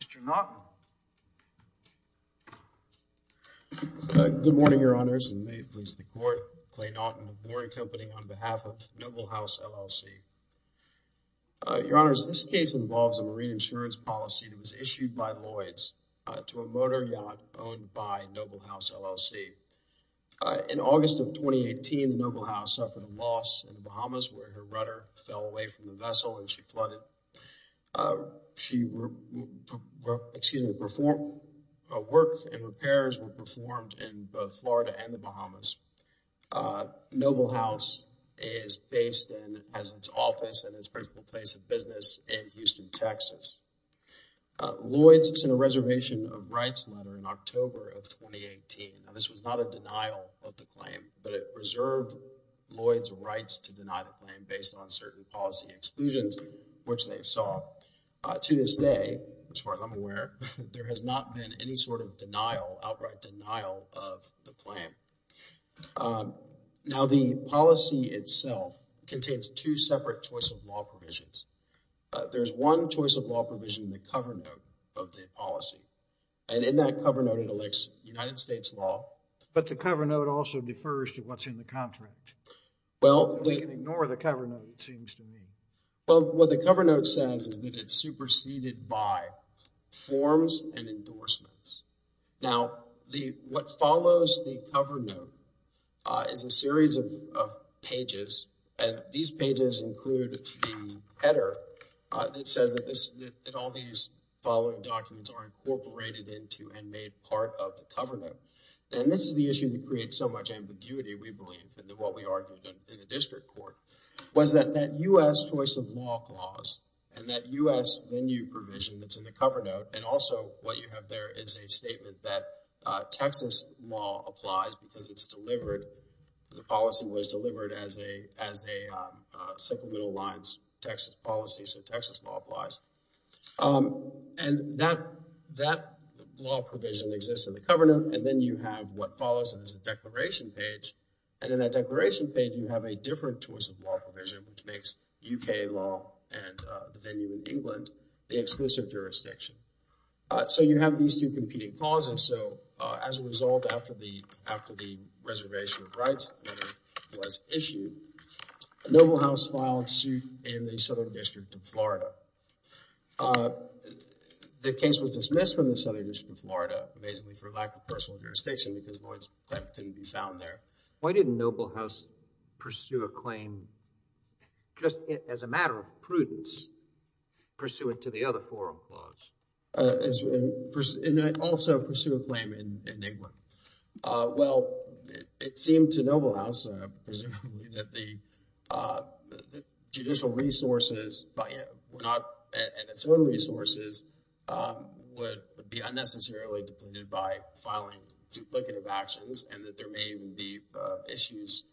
Mr. Naughton. Good morning, Your Honors, and may it please the Court. Clay Naughton of Lorry Company on behalf of Noble House LLC. Your Honors, this case involves a marine insurance policy that was issued by Lloyds to a motor yacht owned by Noble House LLC. In August of 2018, the Noble House suffered a loss in the Bahamas where her rudder fell away from the vessel and she flooded. She excuse me, work and repairs were performed in both Florida and the Bahamas. Noble House is based and has its office and its principal place of business in Houston, Texas. Lloyds sent a reservation of rights letter in October of 2018. Now, this was not a denial of the claim, but it reserved Lloyds' rights to stay, as far as I'm aware. There has not been any sort of denial, outright denial, of the claim. Now, the policy itself contains two separate choice of law provisions. There's one choice of law provision, the cover note of the policy, and in that cover note it elects United States law. But the cover note also defers to what's in the contract. Well, we can ignore the cover note, it seems to me. Well, what the cover note says is that it's superseded by forms and endorsements. Now, what follows the cover note is a series of pages and these pages include the header that says that all these following documents are incorporated into and made part of the cover note. And this is the issue that creates so much ambiguity, we believe, and what we argued in the district court, was that that U.S. choice of law clause, and that U.S. venue provision that's in the cover note, and also what you have there is a statement that Texas law applies because it's delivered, the policy was delivered as a as a simple middle lines Texas policy, so Texas law applies. And that law provision exists in the cover note, and then you have what follows, and it's a declaration page, and in that declaration page you have a different choice of law provision, which makes UK law and the venue in England the exclusive jurisdiction. So you have these two competing clauses, so as a result after the after the reservation of rights was issued, Noble House filed suit in the Southern District of Florida. The case was dismissed from the Southern District of Florida, amazingly, for lack of personal jurisdiction, because Lloyd's claim couldn't be found there. Why didn't Noble House pursue a claim just as a matter of prudence, pursuant to the other forum clause? It also pursued a claim in England. Well, it seemed to Noble House, presumably, that the judicial resources were not its own resources, would be unnecessarily depleted by filing duplicative actions, and that there may even be issues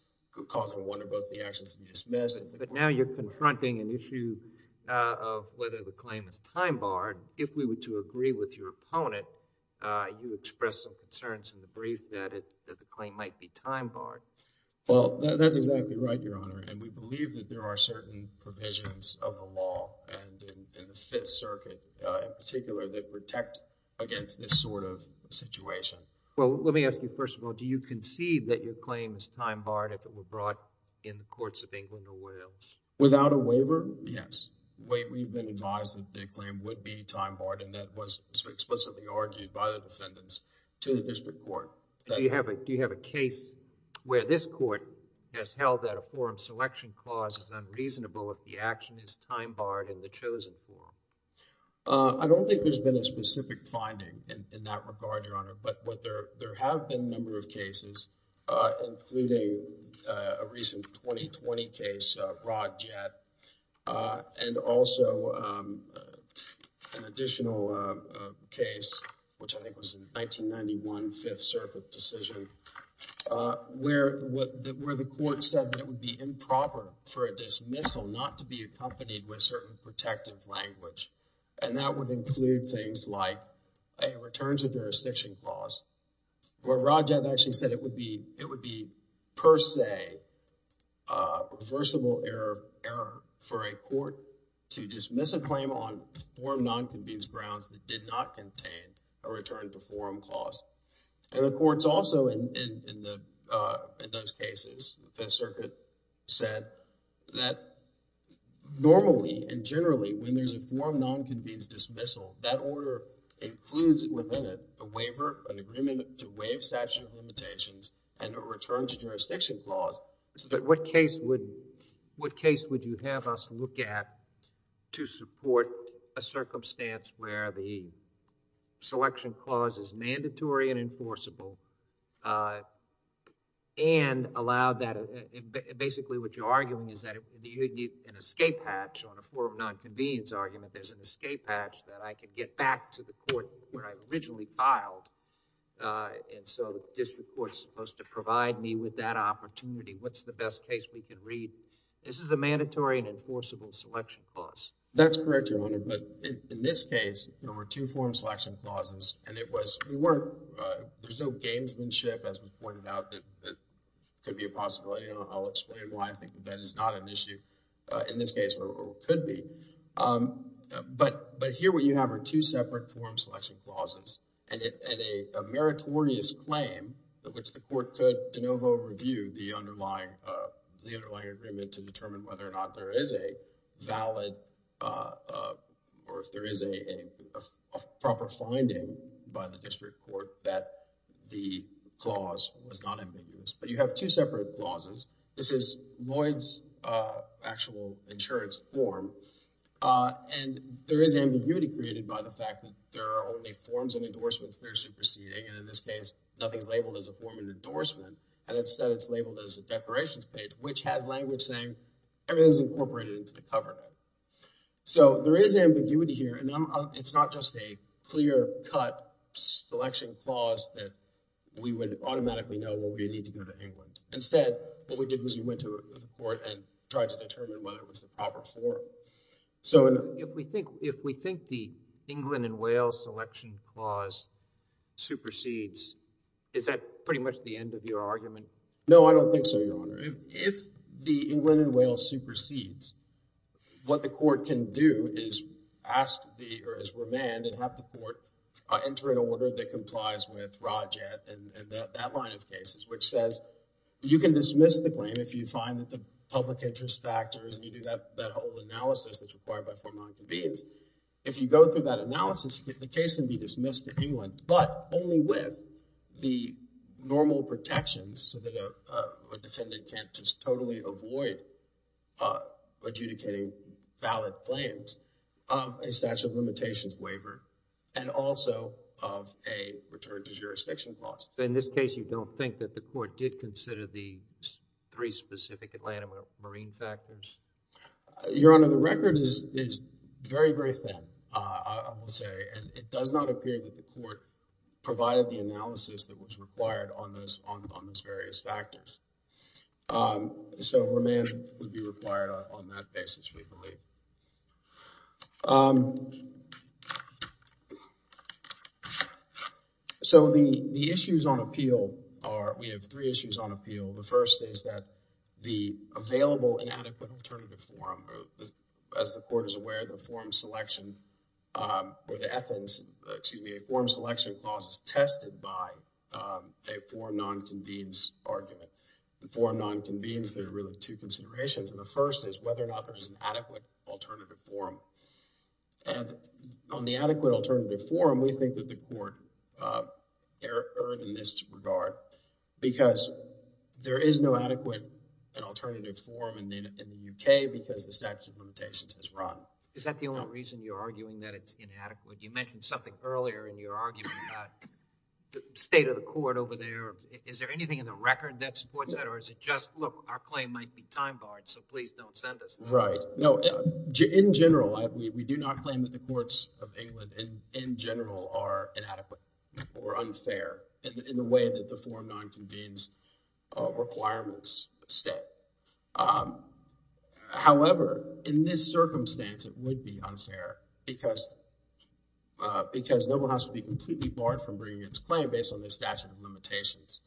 causing one or both the actions to be dismissed. But now you're confronting an issue of whether the claim is time-barred. If we were to agree with your opponent, you expressed some concerns in the brief that the claim might be time-barred. Well, that's exactly right, Your Honor, and we believe that there are certain provisions of the law, and in the Fifth Circuit in particular, that protect against this sort of situation. Well, let me ask you, first of all, do you concede that your claim is time-barred if it were brought in the courts of England or Wales? Without a waiver, yes. We've been advised that the claim would be time-barred, and that was explicitly argued by the defendants to the district court. Do you have a case where this court has held that a forum selection clause is unreasonable if the action is time-barred in the in that regard, Your Honor? But there have been a number of cases, including a recent 2020 case, Rod Jett, and also an additional case, which I think was in 1991, Fifth Circuit decision, where the court said that it would be improper for a dismissal not to be accompanied with a certain protective language, and that would include things like a return to jurisdiction clause, where Rod Jett actually said it would be per se reversible error for a court to dismiss a claim on forum non-convinced grounds that did not contain a return to forum clause. And the courts also in those generally, when there's a forum non-convinced dismissal, that order includes within it a waiver, an agreement to waive statute of limitations, and a return to jurisdiction clause. But what case would you have us look at to support a circumstance where the selection clause is mandatory and enforceable, and allowed that, basically what you're arguing is that you need an escape hatch on a forum non-convenience argument. There's an escape hatch that I can get back to the court where I originally filed, and so the district court is supposed to provide me with that opportunity. What's the best case we can read? This is a mandatory and enforceable selection clause. That's correct, Your Honor, but in this case, there were two forum selection clauses, and it was, we weren't, there's no gamesmanship, as was pointed out, that could be a possibility. I'll explain why I think that is not an issue, in this case, or could be. But here what you have are two separate forum selection clauses, and a meritorious claim that which the court could de novo review the underlying agreement to determine whether or not there is a valid, or if there is a proper finding by the district court that the clause was not ambiguous. But you have two separate clauses. This is Lloyd's actual insurance form, and there is ambiguity created by the fact that there are only forms and endorsements that are superseding, and in this case, nothing's labeled as a form of endorsement, and instead it's labeled as a declarations page, which has language saying everything's incorporated into the cover. So there is ambiguity here, and it's not just a clear-cut selection clause that we would automatically know we need to go to England. Instead, what we did was we went to the court and tried to determine whether it was the proper form. So if we think the England and Wales selection clause supersedes, is that pretty much the end of your argument? No, I don't think so, Your Honor. If the England and Wales supersedes, what the court can do is ask the, or as remand, and have the court enter an order that is, which says, you can dismiss the claim if you find that the public interest factors, and you do that whole analysis that's required by form non-convenience. If you go through that analysis, the case can be dismissed to England, but only with the normal protections so that a defendant can't just totally avoid adjudicating valid claims, a statute of limitations waiver, and also of a return to jurisdiction clause. In this case, you don't think that the court did consider the three specific Atlanta marine factors? Your Honor, the record is very very thin, I will say, and it does not appear that the court provided the analysis that was required on those various factors. So remand would be So the issues on appeal are, we have three issues on appeal. The first is that the available inadequate alternative form, as the court is aware, the form selection, or the FNs, excuse me, a form selection clause is tested by a form non-convenience argument. The form non-convenience, there are really two considerations, and the first is whether or not there is an adequate alternative form. And on the other hand, there is no adequate alternative form in the UK because the statute of limitations has run. Is that the only reason you're arguing that it's inadequate? You mentioned something earlier in your argument about the state of the court over there. Is there anything in the record that supports that, or is it just, look, our claim might be time-barred, so please don't send us that? Right, no, in general, we do not claim that the form is unfair in the way that the form non-convenience requirements state. However, in this circumstance, it would be unfair because Nobel House would be completely barred from bringing its claim based on the statute of limitations.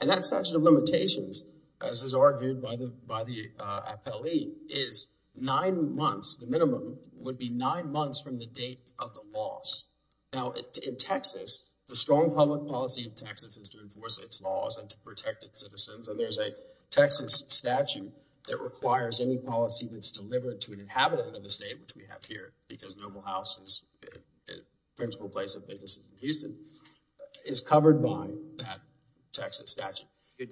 And that statute of limitations, as is argued by the by the appellee, is nine months, the minimum, would be nine months from the date of the loss. Now in Texas, the strong public policy in Texas is to enforce its laws and to protect its citizens, and there's a Texas statute that requires any policy that's delivered to an inhabitant of the state, which we have here, because Nobel House is a principal place of business in Houston, is covered by that Texas statute.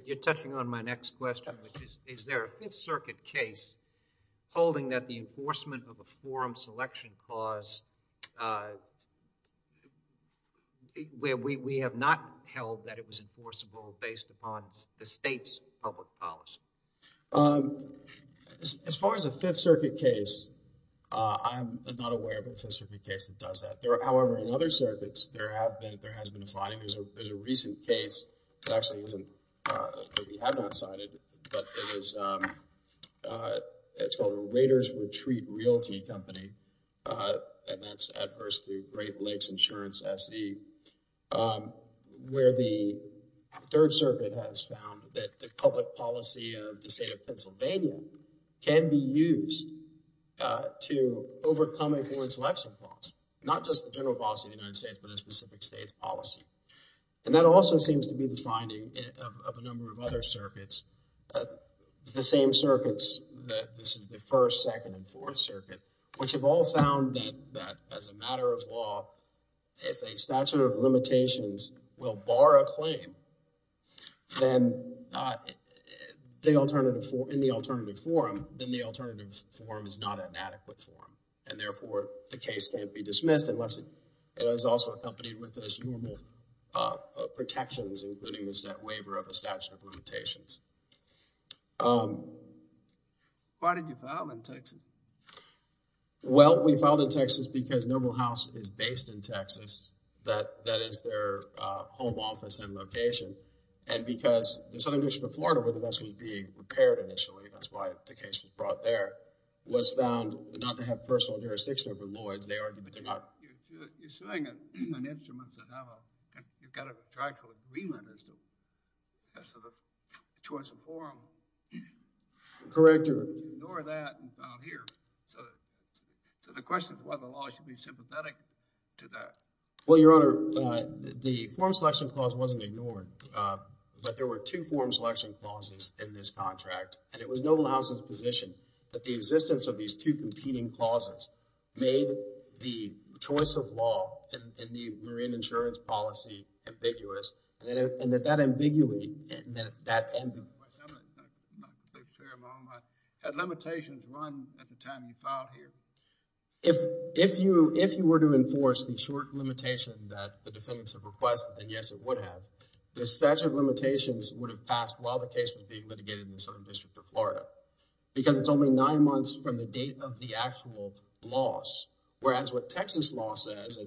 You're touching on my next question, which is, is there a Fifth Circuit case holding that the have not held that it was enforceable based upon the state's public policy? As far as a Fifth Circuit case, I'm not aware of a Fifth Circuit case that does that. However, in other circuits, there have been, there has been a filing. There's a recent case, it actually isn't, that we have not cited, but it was, it's called the Waiters Retreat Realty Company, and that's adverse to Great Lakes Insurance, SSE, where the Third Circuit has found that the public policy of the state of Pennsylvania can be used to overcome influence election laws, not just the general policy of the United States, but a specific state's policy. And that also seems to be the finding of a number of other circuits, the same circuits, that this is the First, Second, and Fourth Circuit, which have all found that as a statute of limitations will bar a claim, then the alternative, in the alternative forum, then the alternative forum is not an adequate forum, and therefore, the case can't be dismissed unless it is also accompanied with those normal protections, including the waiver of a statute of limitations. Why did you file in Texas? Well, we filed in Texas because Noble House is based in that, that is their home office and location, and because the Southern District of Florida, where the vessel was being repaired initially, that's why the case was brought there, was found not to have personal jurisdiction over Lloyds, they argued that they're not. You're suing an instrument, so now you've got a contractual agreement as to, as to the choice of forum. Correct, Your Honor. Ignore that, and file here. So the question is whether the law should be sympathetic to that. Well, Your Honor, the forum selection clause wasn't ignored, but there were two forum selection clauses in this contract, and it was Noble House's position that the existence of these two competing clauses made the choice of law in the marine insurance policy ambiguous, and that that ambiguity, that end of the question. I'm not sure of my own mind. Had limitations run at the time you filed here? If, if you, if you were to enforce the short limitation that the defendants have requested, and yes it would have, the statute of limitations would have passed while the case was being litigated in the Southern District of Florida, because it's only nine months from the date of the actual loss, whereas what Texas law says,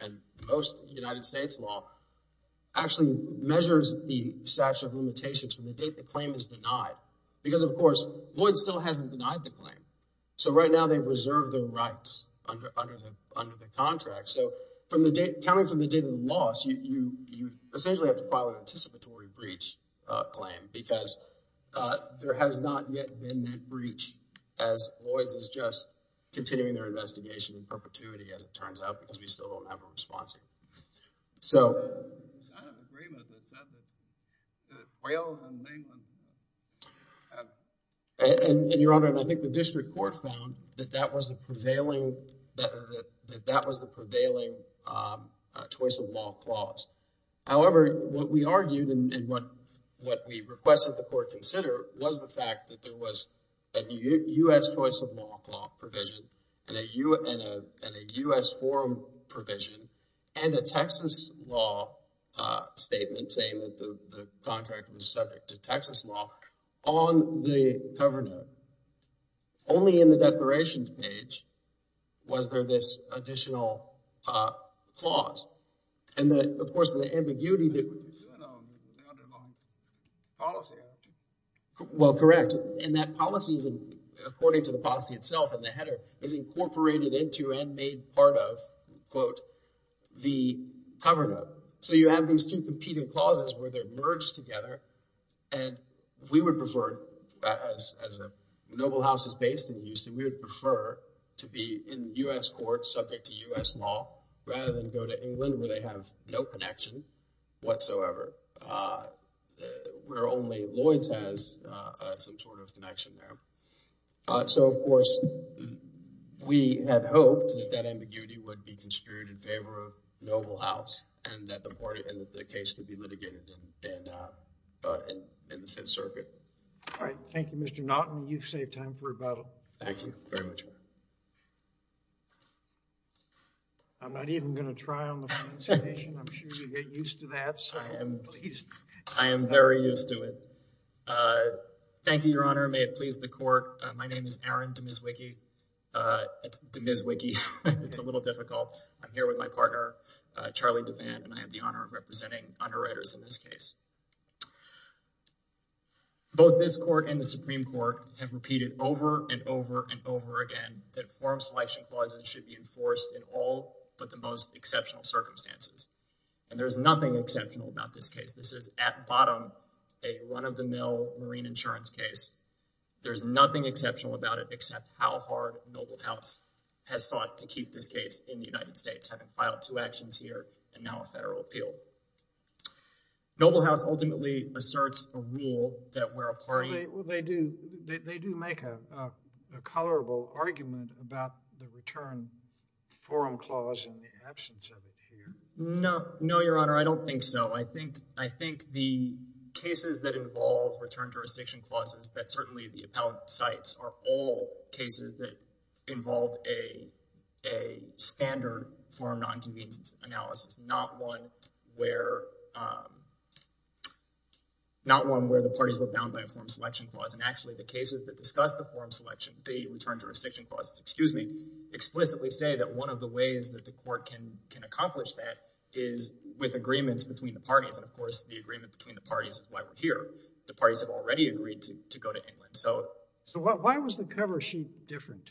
and most United States law, actually measures the statute of limitations from the date the claim is denied, because of course, Lloyds still hasn't denied the claim. So right now, they've reserved their rights under, under the, under the contract. So from the date, counting from the date of the loss, you, you, you essentially have to file an anticipatory breach claim, because there has not yet been that breach, as Lloyds is just continuing their investigation in perpetuity, as it turns out, because we still don't have a response yet. So, I don't agree with what's said, but the Whales in England have. And, and Your Honor, and I think the district court found that that was the prevailing, that, that, that, that was the prevailing choice of law clause. However, what we argued, and what, what we requested the court consider, was the fact that there was a U.S. choice of law provision, and a U.S. forum provision, and a Texas law statement saying that the contract was subject to Texas law on the cover note. Only in the declarations page was there this additional clause. And the, of course, the ambiguity that, well, correct. And that policy is, according to the policy itself, and the header, is incorporated into and made part of, quote, the cover note. So you have these two competing clauses where they're merged together, and we would prefer, as, as a noble house is based in Houston, we would prefer to be in the U.S. court subject to U.S. law, rather than go to England, where they have no connection whatsoever, where only Lloyd's has some sort of connection there. So, of course, we had hoped that that ambiguity would be construed in favor of noble house, and that the party, and that the case would be litigated in, in, in the Fifth Circuit. All right. Thank you, Mr. Naughton. You've saved time for rebuttal. Thank you very much. I'm not even going to try on the final citation. I'm sure you'll get used to that. I am, I am very used to it. Thank you, Your Honor. May it please the court. My name is Aaron DeMizwiki. DeMizwiki. It's a little difficult. I'm here with my partner, Charlie Devan, and I have the honor of representing underwriters in this case. Both this court and the Supreme Court have repeated over and over and over again that forum selection clauses should be enforced in all but the most exceptional circumstances. And there's nothing exceptional about this case. This is, at bottom, a run-of-the-mill marine insurance case. There's nothing exceptional about it except how hard noble house has thought to keep this case in the United States, having filed two actions here and now a federal appeal. Noble house ultimately asserts a rule that we're a party. Well, they do, they do make a, a, a colorable argument about the return forum clause and the absence of it here. No, no, Your Honor, I don't think so. I think, I think the cases that involve return jurisdiction clauses that certainly the appellate cites are all cases that involve a, a standard forum non-convenience analysis, not one where, not one where the parties were bound by a forum selection clause. And actually the cases that say that one of the ways that the court can, can accomplish that is with agreements between the parties. And of course the agreement between the parties is why we're here. The parties have already agreed to, to go to England. So, so why was the cover sheet different?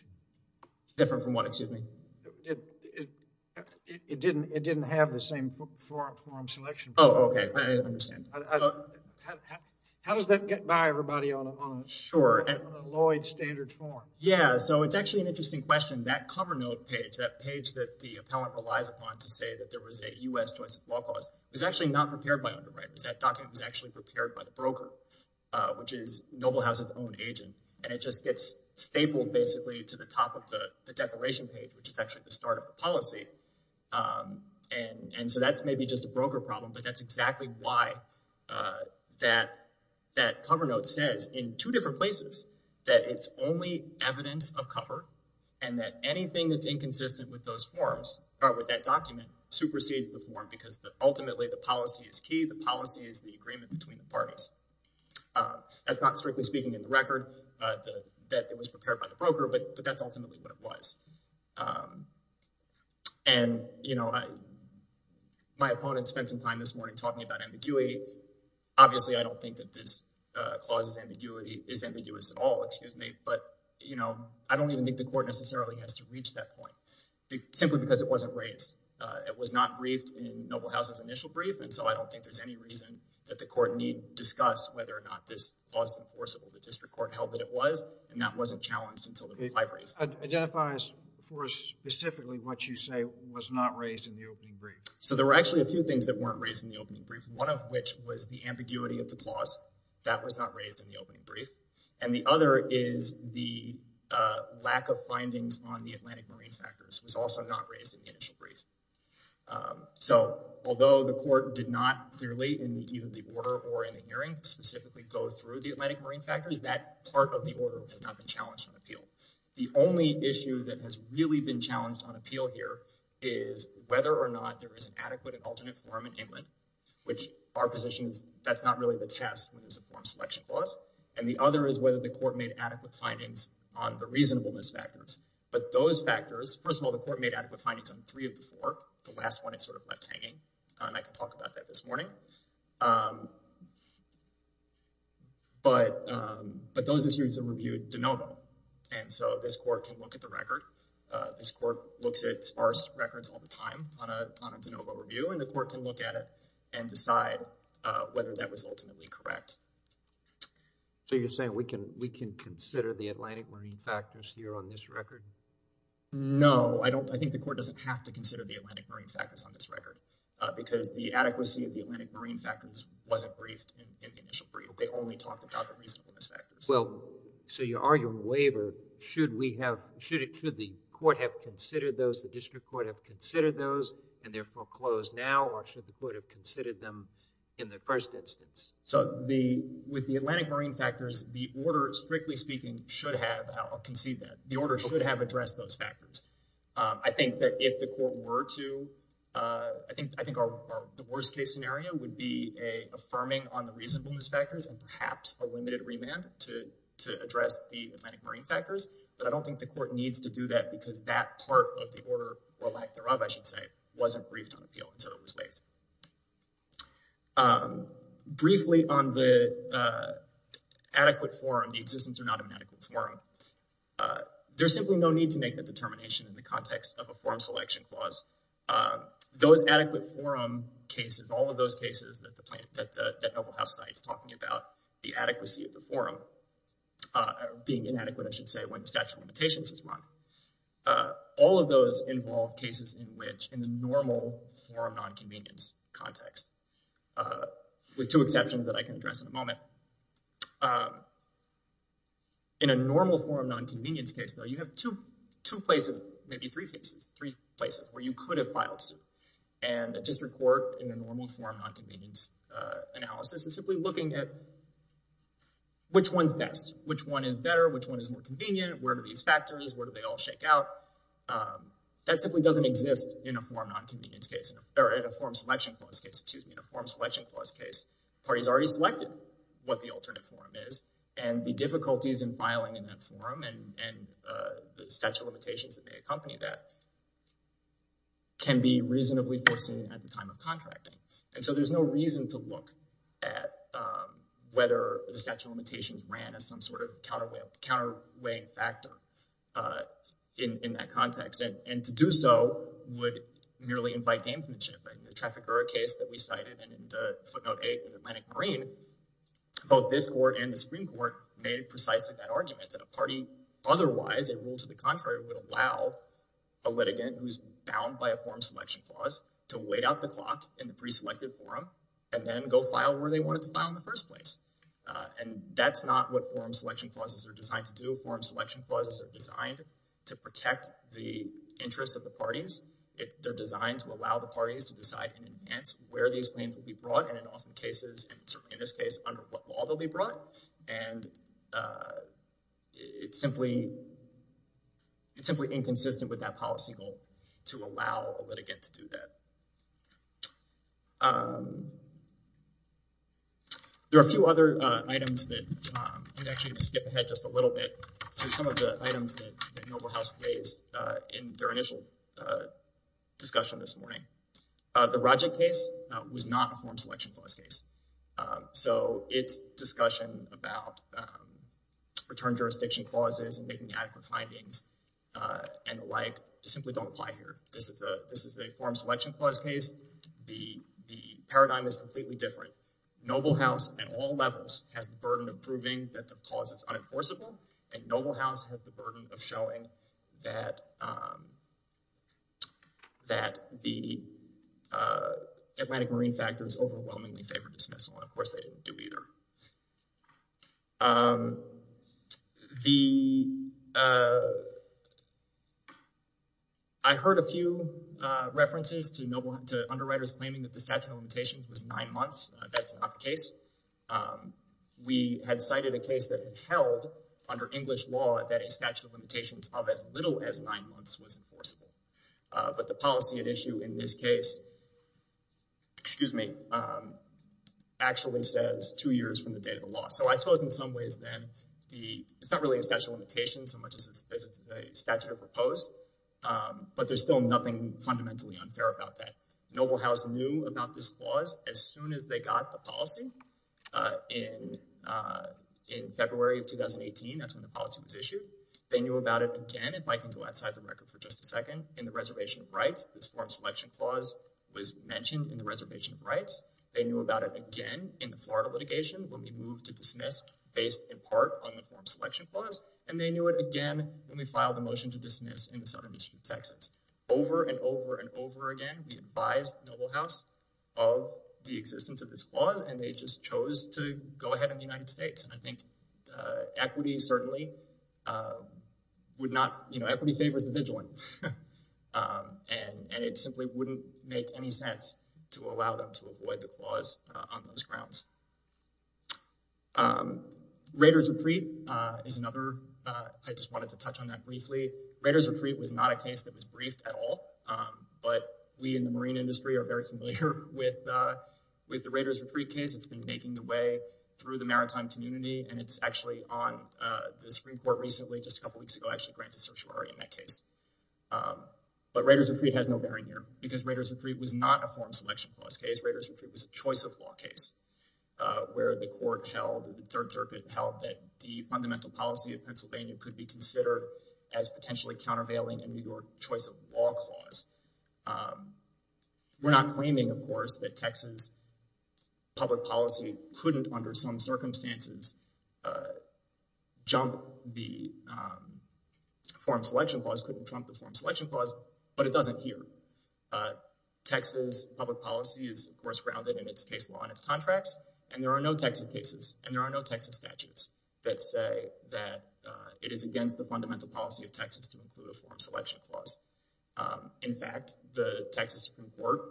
Different from what, excuse me? It, it, it, it didn't, it didn't have the same forum selection. Oh, okay. I understand. How does that get by everybody on a, on a, on a Lloyd standards forum? Yeah. So it's actually an interesting question. That cover note page, that page that the appellant relies upon to say that there was a U.S. choice of law clause, was actually not prepared by underwriters. That document was actually prepared by the broker, which is Noble House's own agent. And it just gets stapled basically to the top of the, the declaration page, which is actually the start of the policy. And, and so that's maybe just a broker problem, but that's exactly why that, that cover note says in two different places that it's only evidence of cover and that anything that's inconsistent with those forms, or with that document, supersedes the form because ultimately the policy is key. The policy is the agreement between the parties. That's not strictly speaking in the record, that it was prepared by the broker, but, but that's ultimately what it was. And, you know, I, my opponents spent some time this morning talking about ambiguity. Obviously, I don't think that this clause is ambiguity, is ambiguous at all, excuse me, but, you know, I don't even think the court necessarily has to reach that point, simply because it wasn't raised. It was not briefed in Noble House's initial brief, and so I don't think there's any reason that the court need discuss whether or not this clause is enforceable. The district court held that it was, and that wasn't challenged until the reply brief. It identifies for us specifically what you say was not raised in the opening brief. So there were actually a few things that weren't raised in the opening brief, one of which was the ambiguity of the clause. That was not raised in the opening brief. And the other is the lack of findings on the Atlantic marine factors was also not raised in the initial brief. So although the court did not clearly in either the order or in the hearing specifically go through the Atlantic marine factors, that part of the order has not been challenged on appeal. The only issue that has really been challenged on appeal here is whether or not there is an adequate and alternate form in England, which our position is that's not really the test when there's a form selection clause. And the other is whether the court made adequate findings on the reasonableness factors. But those factors, first of all, the court made adequate findings on three of the four. The last one is sort of left hanging, and I can talk about that this morning. But those issues are reviewed de novo, and so this court can look at the record. This court looks at sparse records all the time on a de novo review, and the court can look at it and decide whether that was ultimately correct. So you're saying we can consider the Atlantic marine factors here on this record? No, I don't. I think the court doesn't have to consider the Atlantic marine factors on this record, because the adequacy of the Atlantic marine factors wasn't briefed in the initial They only talked about the reasonableness factors. Well, so you're arguing waiver. Should we have, should the court have considered those, the district court have considered those, and therefore close now, or should the court have considered them in the first instance? So with the Atlantic marine factors, the order, strictly speaking, should have, I'll concede that, the order should have addressed those factors. I think that if the court were to, I think the worst case scenario would be a affirming on the reasonableness factors and perhaps a limited remand to address the Atlantic marine factors, but I don't think the court needs to do that because that part of the order, or lack thereof, I should say, wasn't briefed on appeal until it was waived. Briefly on the adequate forum, the existence or not of an adequate forum, there's simply no need to make the determination in the context of a forum selection clause. Those adequate forum cases, all of those cases that the plant, that the noble house site's talking about, the adequacy of the forum being inadequate, I should say, when the statute of limitations is run, all of those involve cases in which, in the normal forum non-convenience context, with two exceptions that I can address in a moment, in a normal forum non-convenience case, though, you have two places, maybe three cases, three could have filed suit, and a district court in a normal forum non-convenience analysis is simply looking at which one's best, which one is better, which one is more convenient, where do these factors, where do they all shake out? That simply doesn't exist in a forum non-convenience case, or in a forum selection clause case. In a forum selection clause case, parties already selected what the alternate forum is, and the difficulties in filing in that forum and the statute of limitations can be reasonably foreseen at the time of contracting, and so there's no reason to look at whether the statute of limitations ran as some sort of counterweight, counter-weighing factor in that context, and to do so would merely invite gamesmanship. In the Traficura case that we cited, and in the footnote eight with Atlantic Marine, both this court and the Supreme Court made precisely that argument, that a party otherwise, a rule to the contrary, would allow a litigant who's bound by a forum selection clause to wait out the clock in the pre-selected forum, and then go file where they wanted to file in the first place, and that's not what forum selection clauses are designed to do. Forum selection clauses are designed to protect the interests of the parties. They're designed to allow the parties to decide and enhance where these claims will be brought, and in often cases, and certainly in this case, under what law they'll be brought, and it's simply inconsistent with that policy goal to allow a litigant to do that. There are a few other items that, I'm actually going to skip ahead just a little bit to some of the items that the noble house raised in their initial discussion this morning. The Rodgick case was not a forum selection clause case, so its discussion about return jurisdiction clauses and making adequate findings and the like simply don't apply here. This is a forum selection clause case. The paradigm is completely different. Noble house at all levels has the burden of proving that the cause is unenforceable, and noble house has the burden of showing that the Atlantic marine factor is overwhelmingly favored dismissal, and of course they didn't do either. I heard a few references to underwriters claiming that the statute of limitations was nine a statute of limitations of as little as nine months was enforceable, but the policy at issue in this case, excuse me, actually says two years from the date of the law, so I suppose in some ways then it's not really a statute of limitations so much as it's a statute of repose, but there's still nothing fundamentally unfair about that. Noble house knew about this clause as soon as they got the policy in February of 2018. That's when the policy was issued. They knew about it again, if I can go outside the record for just a second, in the reservation of rights. This forum selection clause was mentioned in the reservation of rights. They knew about it again in the Florida litigation when we moved to dismiss based in part on the forum selection clause, and they knew it again when we filed the motion to dismiss in the southern district of Texas. Over and over and over again, we advised noble house of the existence of this clause and they just chose to go ahead in the United States, and I think equity certainly would not, you know, equity favors the vigilant, and it simply wouldn't make any sense to allow them to avoid the clause on those grounds. Raiders retreat is another, I just wanted to touch on that briefly. Raiders retreat has no bearing here because Raiders retreat was not a forum selection clause case. Raiders retreat was a choice of law case where the court held, the third circuit held that the fundamental policy of Pennsylvania could be considered as potentially countervailing in your choice of law clause. We're not claiming, of course, that Texas public policy couldn't, under some circumstances, jump the forum selection clause, couldn't trump the forum selection clause, but it doesn't here. Texas public policy is, of course, grounded in its case law and its contracts, and there are no Texas cases, and there are no Texas statutes that say that it is against the fundamental policy of Texas to include a forum selection clause. In fact, the Texas Supreme Court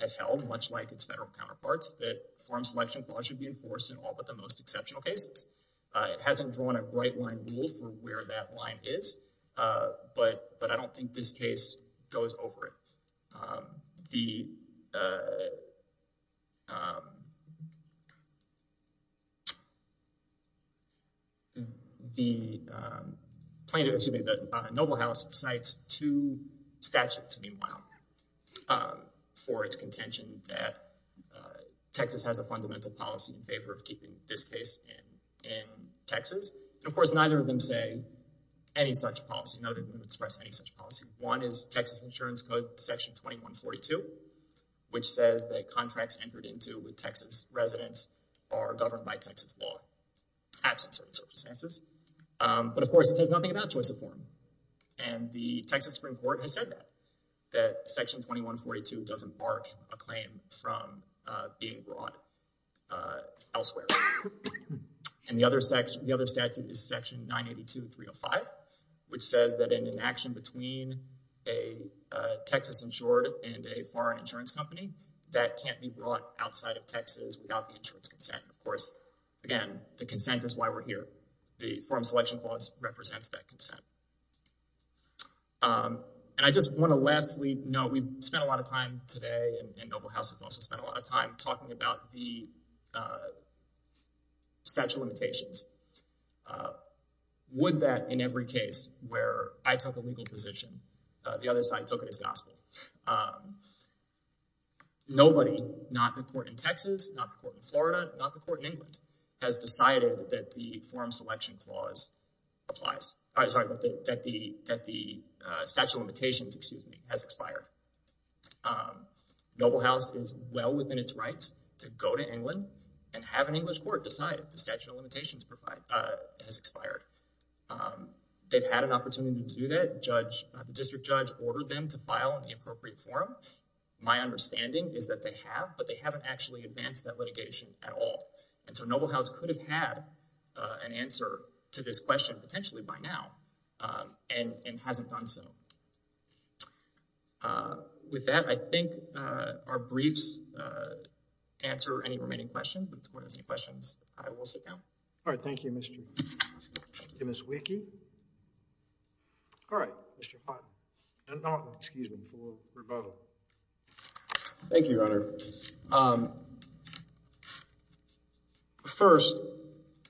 has held, much like its federal counterparts, that forum selection clause should be enforced in all but the most exceptional cases. It hasn't drawn a bright line rule for where that line is, but I don't think this case goes over it. The noble house cites two statutes, meanwhile, for its contention that Texas has a fundamental policy in favor of keeping this case in Texas. Of course, neither of them say any such policy, nor do they express any such policy. One is Texas Insurance Code, Section 2142, which says that contracts entered into with Texas residents are governed by Texas law, absent certain circumstances. But of course, it says nothing about choice of forum, and the Texas Supreme Court has said that, that Section 2142 doesn't mark a claim from being brought elsewhere. The other statute is Section 982-305, which says that in an action between a Texas insured and a foreign insurance company, that can't be brought outside of Texas without the insurance consent. Of course, again, the consent is why we're here. The forum selection clause represents that consent. I just want to lastly note, we've spent a lot of time today, and noble house has also spent a lot of time, talking about the statute of limitations. Would that, in every case where I took a legal position, the other side took it as gospel. Nobody, not the court in Texas, not the court in Florida, not the court in England, has decided that the forum selection clause applies, that the statute of limitations, excuse me, has expired. Noble house is well within its rights to go to England and have an English court decide the statute of limitations has expired. They've had an opportunity to do that. The district judge ordered them to file on the appropriate forum. My understanding is that they have, but they haven't actually advanced that litigation at all. And so noble house could have had an answer to this question, potentially by now, and hasn't done so. With that, I think our briefs answer any remaining questions. If the court has any questions, I will sit down. All right. Thank you, Mr. Weeke. All right, Mr. Houghton, excuse me, for rebuttal. Thank you, Your Honor. First,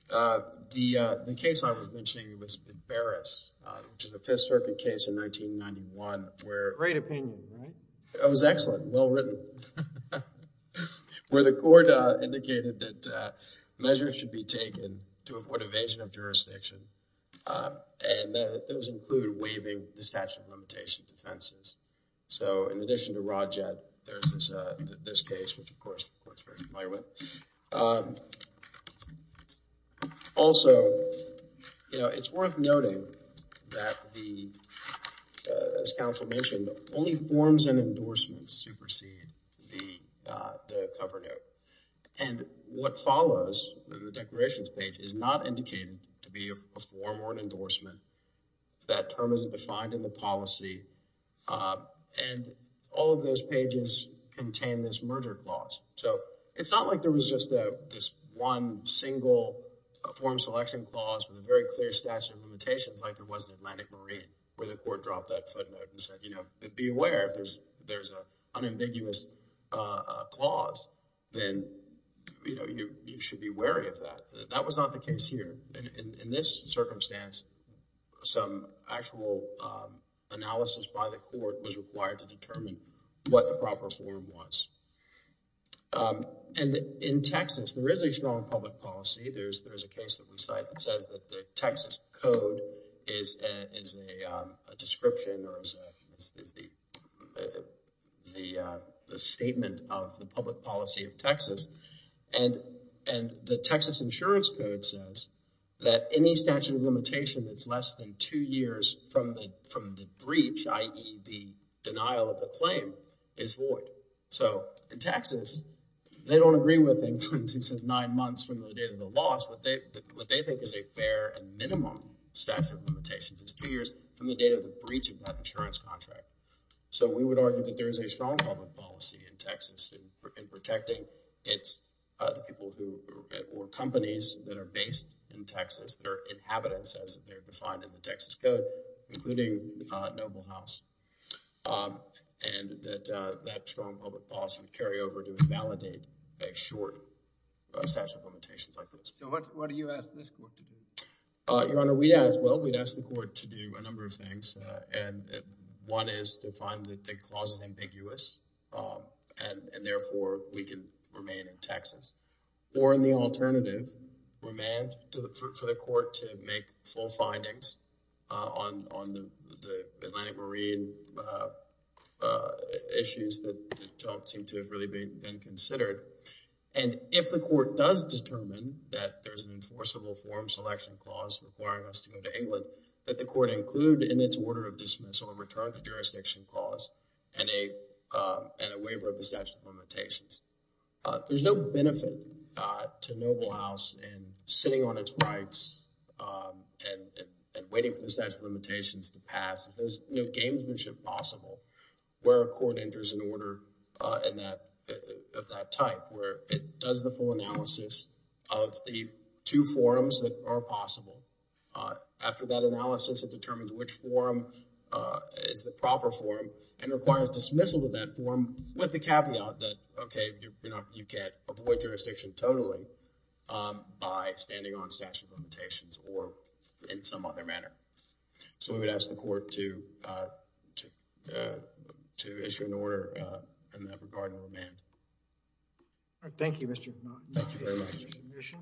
the case I was mentioning was Baras, which is a Fifth Circuit case in 1991, where- Great opinion, right? It was excellent, well-written, where the court indicated that measures should be taken to avoid evasion of jurisdiction. And those include waiving the statute of limitation defenses. So, in addition to Rod Jett, there's this case, which of course, the court's very familiar with. Also, it's worth noting that the, as counsel mentioned, only forms and endorsements supersede the cover note. And what follows, the declarations page, is not indicated to be a form or an endorsement. And all of those pages contain this merger clause. So, it's not like there was just this one single form selection clause with a very clear statute of limitations, like there was in Atlantic Marine, where the court dropped that footnote and said, be aware if there's an unambiguous clause, then you should be wary of that. That was not the case here. In this circumstance, some actual analysis by the court was required to determine what the proper form was. And in Texas, there is a strong public policy. There's a case that we cite that says that the Texas code is a description or is the statement of the public policy of Texas. And the Texas insurance code says that any statute of limitation that's less than two years from the breach, i.e. the denial of the claim, is void. So, in Texas, they don't agree with anything that says nine months from the date of the loss. What they think is a fair and minimum statute of limitations is two years from the date of the breach of that insurance contract. So, we would argue that there is a strong public policy in Texas in protecting the people or companies that are based in Texas, their inhabitants, as they're defined in the Texas code, including Noble House. And that strong public policy would carry over to invalidate a short statute of limitations like this. So, what do you ask this court to do? Your Honor, we'd ask, well, we'd ask the court to do a number of things. And one is to find that the clause is ambiguous, and therefore, we can remain in Texas. Or in the alternative, we may ask for the court to make full findings on the Atlantic Marine issues that don't seem to have really been considered. And if the court does determine that there's an enforceable form selection clause requiring us to go to England, that the court include in its order of dismissal a return to jurisdiction clause and a waiver of the statute of limitations. There's no benefit to Noble House in sitting on its rights and waiting for the statute of limitations to pass. There's no gamesmanship possible where a court enters an order of that type where it does the full analysis of the two forms that are possible. After that analysis, it determines which form is the proper form and requires dismissal of that form with the caveat that, okay, you can't avoid jurisdiction totally by standing on statute of limitations or in some other manner. So, I would ask the court to issue an order in that regard and remain. Thank you, Mr. McMahon. Thank you very much.